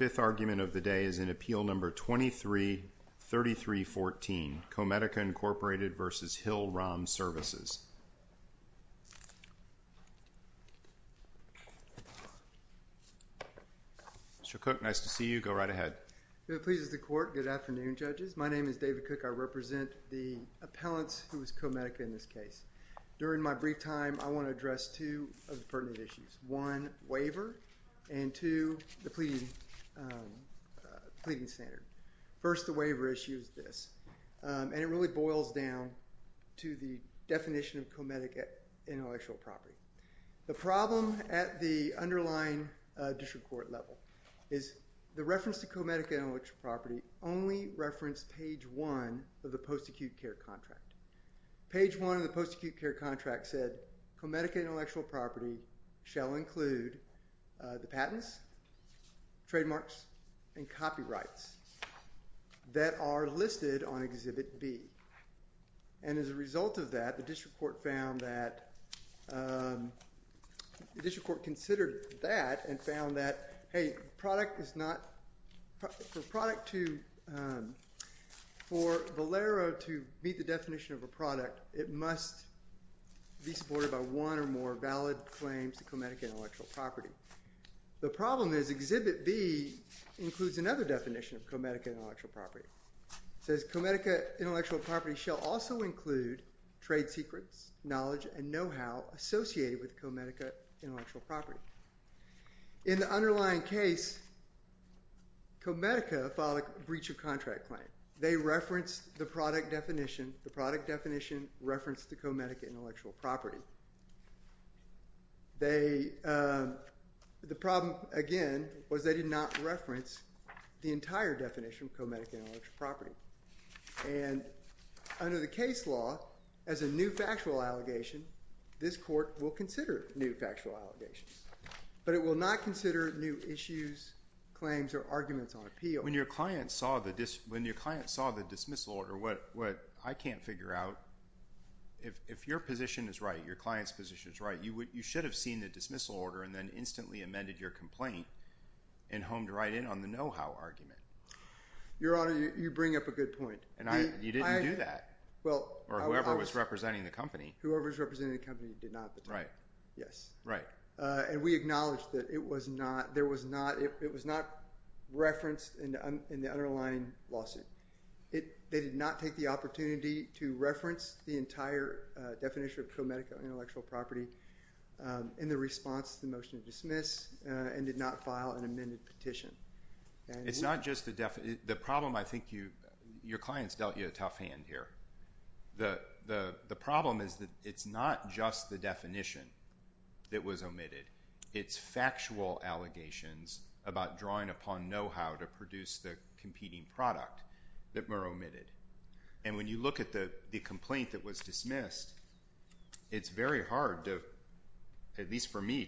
The fifth argument of the day is in Appeal No. 23-3314, Comedica Incorporated v. Hill-Rom Services. Mr. Cook, nice to see you. Go right ahead. If it pleases the Court, good afternoon, judges. My name is David Cook. I represent the appellants who is Comedica in this case. During my brief time, I want to address two of the pertinent issues. One, waiver, and two, the pleading standard. First the waiver issue is this, and it really boils down to the definition of comedic intellectual property. The problem at the underlying district court level is the reference to comedic intellectual property only referenced page one of the post-acute care contract. Page one of the post-acute care contract said comedic intellectual property shall include the patents, trademarks, and copyrights that are listed on Exhibit B. And as a result of that, the district court found that, the district court considered that and found that, hey, product is not, for product to, for Valero to meet the definition of a product, it must be supported by one or more valid claims to comedic intellectual property. The problem is Exhibit B includes another definition of comedic intellectual property. It says comedic intellectual property shall also include trade secrets, knowledge, and know-how associated with comedic intellectual property. In the underlying case, Comedica filed a breach of contract claim. They referenced the product definition. The product definition referenced the comedic intellectual property. The problem, again, was they did not reference the entire definition of comedic intellectual property. And under the case law, as a new factual allegation, this court will consider new factual allegations. But it will not consider new issues, claims, or arguments on appeal. When your client saw the dismissal order, what I can't figure out, if your position is right, your client's position is right, you should have seen the dismissal order and then instantly amended your complaint and honed right in on the know-how argument. Your Honor, you bring up a good point. And you didn't do that. Or whoever was representing the company. Whoever was representing the company did not. Right. Yes. Right. And we acknowledge that it was not referenced in the underlying lawsuit. They did not take the opportunity to reference the entire definition of comedic intellectual property in the response to the motion to dismiss and did not file an amended petition. It's not just the definition. The problem, I think, your client's dealt you a tough hand here. The problem is that it's not just the definition that was omitted. It's factual allegations about drawing upon know-how to produce the competing product that were omitted. And when you look at the complaint that was dismissed, it's very hard to, at least for me,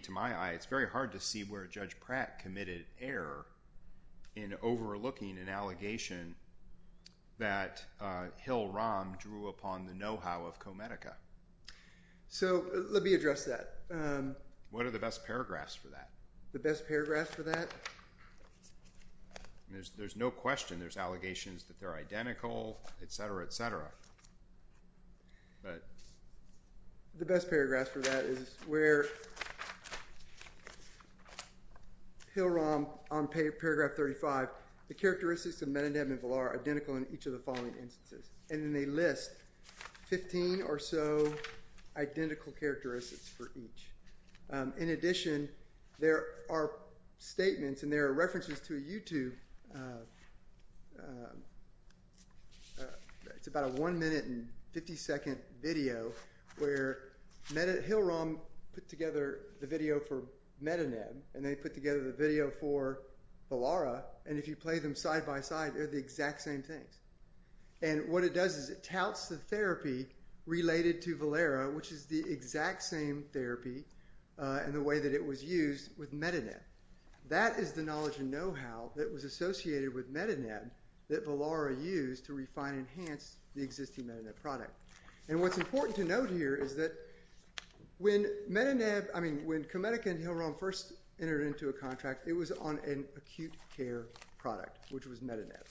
in overlooking an allegation that Hill-Rom drew upon the know-how of Comedica. So let me address that. What are the best paragraphs for that? The best paragraphs for that? There's no question. There's allegations that they're identical, et cetera, et cetera. Right. The best paragraph for that is where Hill-Rom, on paragraph 35, the characteristics of Mendenham and Villar are identical in each of the following instances. And then they list 15 or so identical characteristics for each. In addition, there are statements and there are references to a YouTube. It's about a one-minute and 50-second video where Hill-Rom put together the video for Mendenham, and they put together the video for Villar, and if you play them side-by-side, they're the exact same things. And what it does is it touts the therapy related to Villar, which is the exact same therapy and the way that it was used with Mendenham. That is the knowledge and know-how that was associated with Medineb that Villar used to refine and enhance the existing Medineb product. And what's important to note here is that when Medineb, I mean, when Comedica and Hill-Rom first entered into a contract, it was on an acute care product, which was Medineb.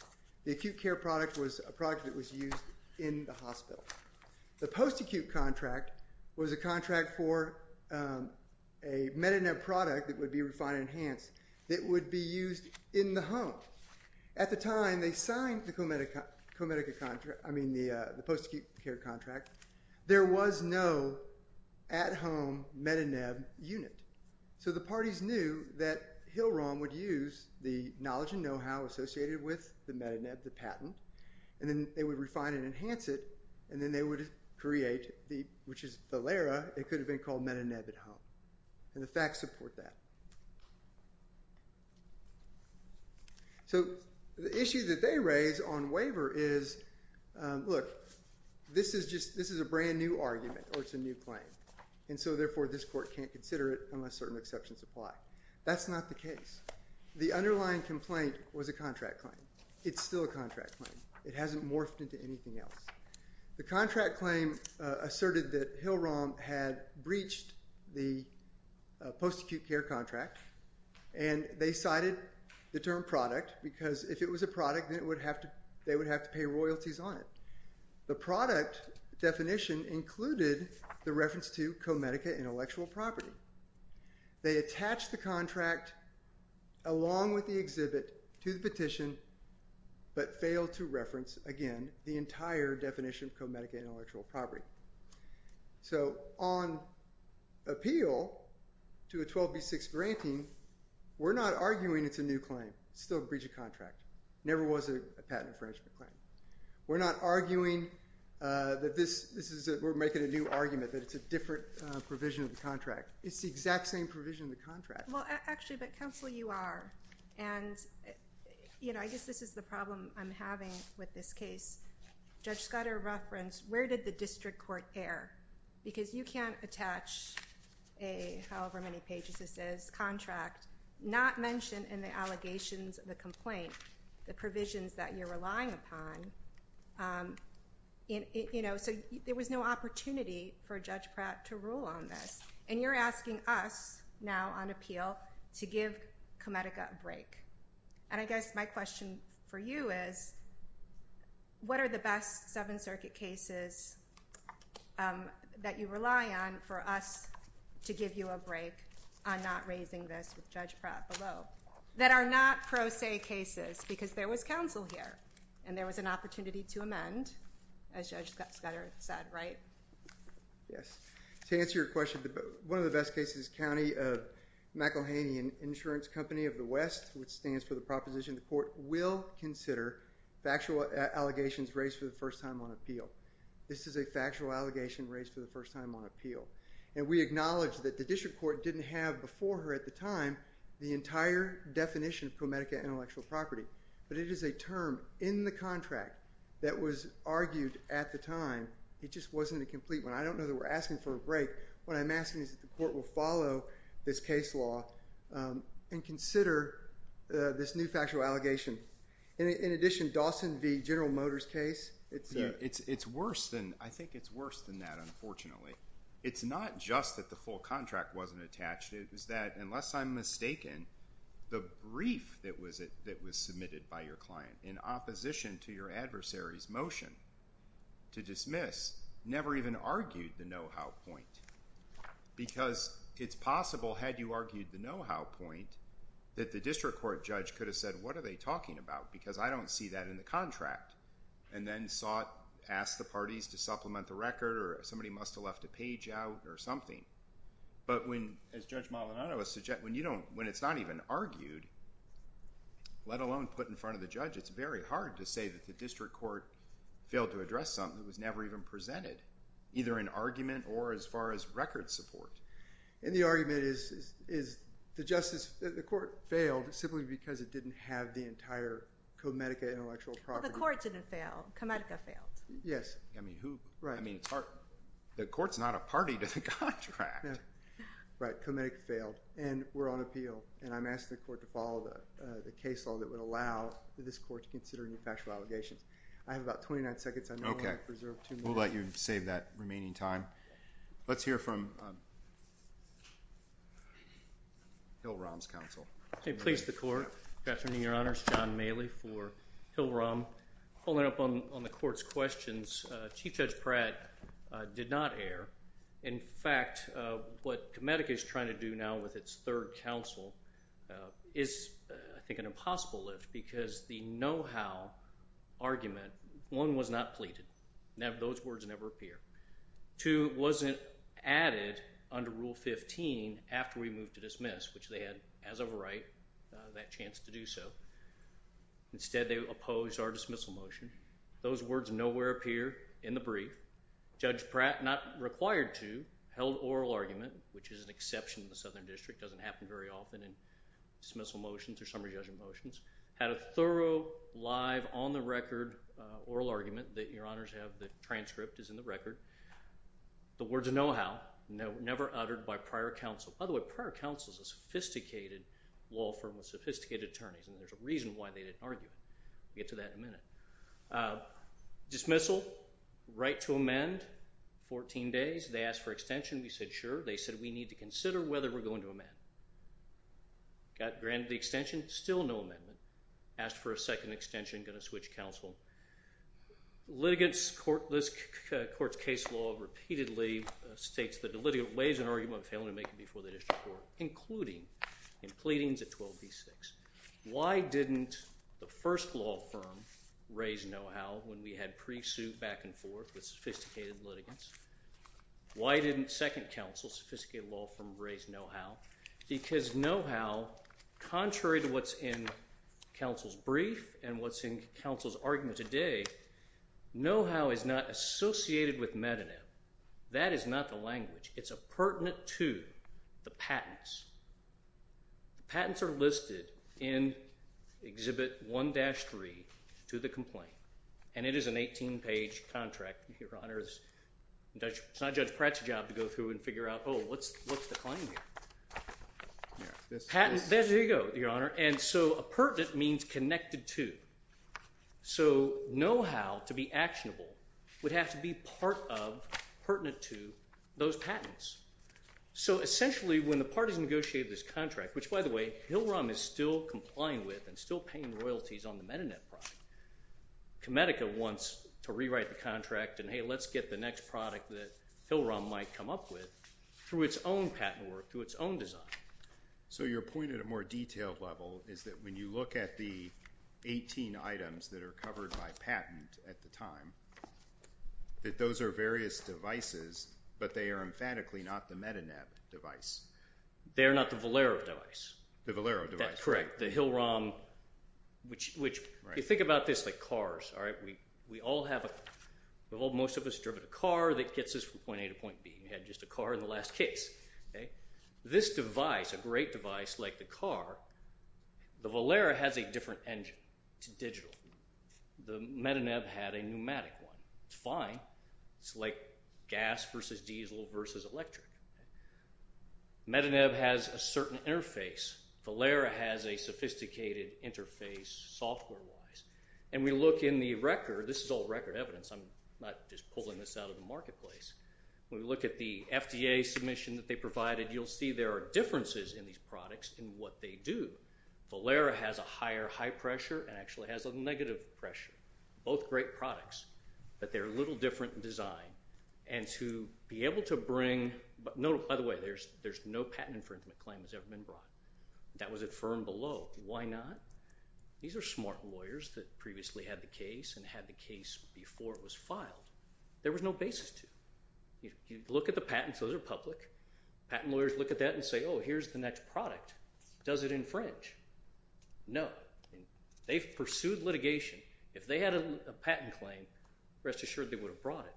The acute care product was a product that was used in the hospital. The post-acute contract was a contract for a Medineb product that would be refined and enhanced that would be used in the home. At the time they signed the Comedica contract, I mean, the post-acute care contract, there was no at-home Medineb unit. So the parties knew that Hill-Rom would use the knowledge and know-how associated with the Medineb, the patent, and then they would refine and enhance it, and then they would create, which is Villar, it could have been called Medineb at home. And the facts support that. So the issue that they raise on waiver is, look, this is a brand-new argument or it's a new claim. And so, therefore, this court can't consider it unless certain exceptions apply. That's not the case. The underlying complaint was a contract claim. It's still a contract claim. It hasn't morphed into anything else. The contract claim asserted that Hill-Rom had breached the post-acute care contract, and they cited the term product because if it was a product, they would have to pay royalties on it. The product definition included the reference to Comedica intellectual property. They attached the contract along with the exhibit to the petition but failed to reference, again, the entire definition of Comedica intellectual property. So on appeal to a 12B6 granting, we're not arguing it's a new claim. It's still a breach of contract. It never was a patent infringement claim. We're not arguing that this is a—we're making a new argument that it's a different provision of the contract. It's the exact same provision of the contract. Well, actually, but, counsel, you are, and, you know, I guess this is the problem I'm having with this case. Judge Scudder referenced, where did the district court err? Because you can't attach a however-many-pages-this-is contract not mention in the allegations of the complaint the provisions that you're relying upon, you know, so there was no opportunity for Judge Pratt to rule on this. And you're asking us now on appeal to give Comedica a break. And I guess my question for you is what are the best Seventh Circuit cases that you rely on for us to give you a break on not raising this with Judge Pratt below that are not pro se cases because there was counsel here and there was an opportunity to amend, as Judge Scudder said, right? Yes. To answer your question, one of the best cases is County of McElhaney Insurance Company of the West, which stands for the proposition the court will consider factual allegations raised for the first time on appeal. This is a factual allegation raised for the first time on appeal. And we acknowledge that the district court didn't have before her at the time the entire definition of Comedica intellectual property. But it is a term in the contract that was argued at the time. It just wasn't a complete one. I don't know that we're asking for a break. What I'm asking is that the court will follow this case law and consider this new factual allegation. In addition, Dawson v. General Motors case. It's worse than, I think it's worse than that, unfortunately. It's not just that the full contract wasn't attached. It was that, unless I'm mistaken, the brief that was submitted by your client in opposition to your adversary's motion to dismiss never even argued the know-how point because it's possible, had you argued the know-how point, that the district court judge could have said, what are they talking about because I don't see that in the contract and then sought, asked the parties to supplement the record or somebody must have left a page out or something. But when, as Judge Maldonado suggested, when it's not even argued, let alone put in front of the judge, it's very hard to say that the district court failed to address something that was never even presented, either in argument or as far as record support. And the argument is the court failed simply because it didn't have the entire Comedica intellectual property. Well, the court didn't fail. Comedica failed. Yes. I mean, who? Right. I mean, it's hard. The court's not a party to the contract. Right. Comedica failed. And we're on appeal. And I'm asking the court to follow the case law that would allow this court to consider any factual allegations. I have about 29 seconds. I know I preserved two minutes. Okay. We'll let you save that remaining time. Let's hear from Hill Rom's counsel. Please, the court. Good afternoon, Your Honors. John Maley for Hill Rom. Following up on the court's questions, Chief Judge Pratt did not err. In fact, what Comedica is trying to do now with its third counsel is, I think, an impossible lift because the know-how argument, one, was not pleaded. Those words never appear. Two, wasn't added under Rule 15 after we moved to dismiss, which they had, as of right, that chance to do so. Instead, they opposed our dismissal motion. Those words nowhere appear in the brief. Judge Pratt, not required to, held oral argument, which is an exception in the Southern District, doesn't happen very often in dismissal motions or summary judgment motions, had a thorough, live, on-the-record oral argument that, Your Honors, the transcript is in the record. The words of know-how never uttered by prior counsel. It was a sophisticated law firm with sophisticated attorneys, and there's a reason why they didn't argue it. We'll get to that in a minute. Dismissal, right to amend, 14 days. They asked for extension. We said, sure. They said, we need to consider whether we're going to amend. Got granted the extension. Still no amendment. Asked for a second extension. Going to switch counsel. Litigants, this court's case law, repeatedly states that the litigant lays an argument of failing to make it before the district court, including in pleadings at 12B6. Why didn't the first law firm raise know-how when we had pre-suit back and forth with sophisticated litigants? Why didn't second counsel, sophisticated law firm, raise know-how? Because know-how, contrary to what's in counsel's brief and what's in counsel's argument today, know-how is not associated with metadata. That is not the language. It's appurtenant to the patents. The patents are listed in Exhibit 1-3 to the complaint, and it is an 18-page contract. Your Honor, it's not Judge Pratt's job to go through and figure out, oh, what's the claim here? Patents, there you go, Your Honor. And so appurtenant means connected to. So know-how, to be actionable, would have to be part of, pertinent to, those patents. So essentially, when the parties negotiate this contract, which, by the way, HILROM is still complying with and still paying royalties on the MetaNet product. Comedica wants to rewrite the contract and, hey, let's get the next product that HILROM might come up with through its own patent work, through its own design. So your point at a more detailed level is that when you look at the 18 items that are covered by patent at the time, that those are various devices, but they are emphatically not the MetaNet device. They are not the Valero device. The Valero device. That's correct. The HILROM, which, if you think about this like cars, all right, we all have a, most of us have driven a car that gets us from point A to point B. You had just a car in the last case. This device, a great device like the car, the Valero has a different engine. The MetaNet had a pneumatic one. It's fine. It's like gas versus diesel versus electric. MetaNet has a certain interface. Valero has a sophisticated interface software-wise. And we look in the record. This is all record evidence. I'm not just pulling this out of the marketplace. When we look at the FDA submission that they provided, you'll see there are differences in these products in what they do. Valero has a higher high pressure and actually has a negative pressure. Both great products, but they're a little different in design. And to be able to bring, by the way, there's no patent infringement claim that's ever been brought. That was affirmed below. Why not? These are smart lawyers that previously had the case and had the case before it was filed. There was no basis to it. You look at the patents. Those are public. Patent lawyers look at that and say, oh, here's the next product. Does it infringe? No. They've pursued litigation. If they had a patent claim, rest assured they would have brought it.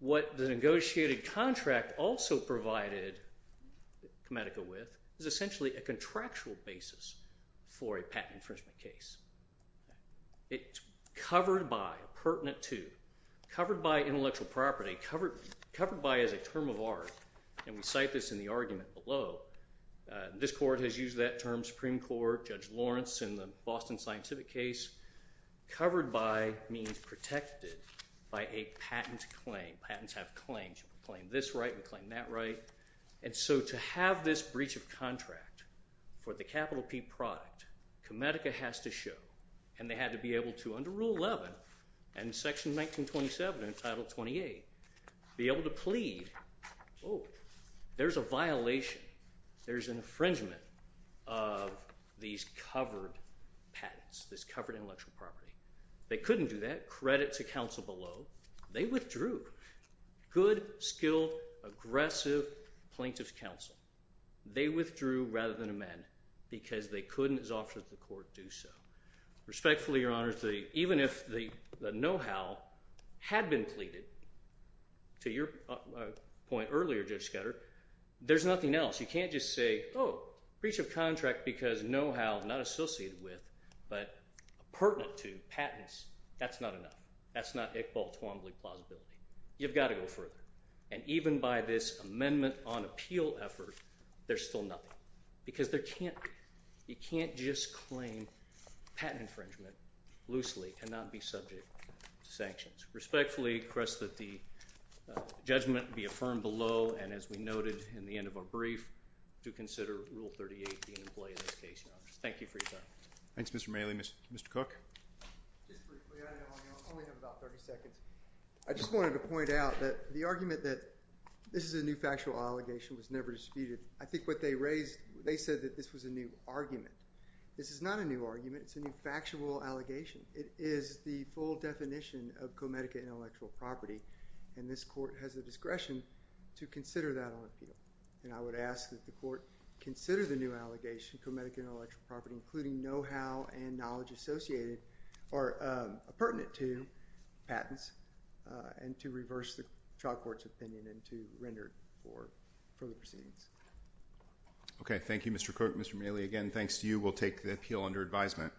What the negotiated contract also provided Comedica with is essentially a contractual basis for a patent infringement case. It's covered by, pertinent to, covered by intellectual property, covered by as a term of art, and we cite this in the argument below. This court has used that term, Supreme Court, Judge Lawrence in the Boston Scientific case. Covered by means protected by a patent claim. Patents have claims. We claim this right. We claim that right. And so to have this breach of contract for the capital P product, Comedica has to show, and they had to be able to, under Rule 11 and Section 1927 and Title 28, be able to plead. Oh, there's a violation. There's an infringement of these covered patents, this covered intellectual property. They couldn't do that. Credit to counsel below. They withdrew. Good, skilled, aggressive plaintiff's counsel. They withdrew rather than amend because they couldn't, as offered to the court, do so. Respectfully, Your Honor, even if the know-how had been pleaded, to your point earlier, Judge Sketter, there's nothing else. You can't just say, oh, breach of contract because know-how, not associated with, but pertinent to patents. That's not enough. That's not Iqbal Twombly plausibility. You've got to go further. And even by this amendment on appeal effort, there's still nothing because there can't be. You can't just claim patent infringement loosely and not be subject to sanctions. Respectfully request that the judgment be affirmed below and, as we noted in the end of our brief, to consider Rule 38 being in play in this case, Your Honor. Thank you for your time. Thanks, Mr. Maley. Mr. Cook? Just briefly. I only have about 30 seconds. I just wanted to point out that the argument that this is a new factual allegation was never disputed. I think what they raised, they said that this was a new argument. This is not a new argument. It's a new factual allegation. It is the full definition of co-medica intellectual property, and this court has the discretion to consider that on appeal. And I would ask that the court consider the new allegation, co-medica intellectual property, including know-how and knowledge associated or pertinent to patents, and to reverse the trial court's opinion and to render it for further proceedings. Okay. Thank you, Mr. Cook. Mr. Maley, again, thanks to you. We'll take the appeal under advisement. Thank you, Your Honor.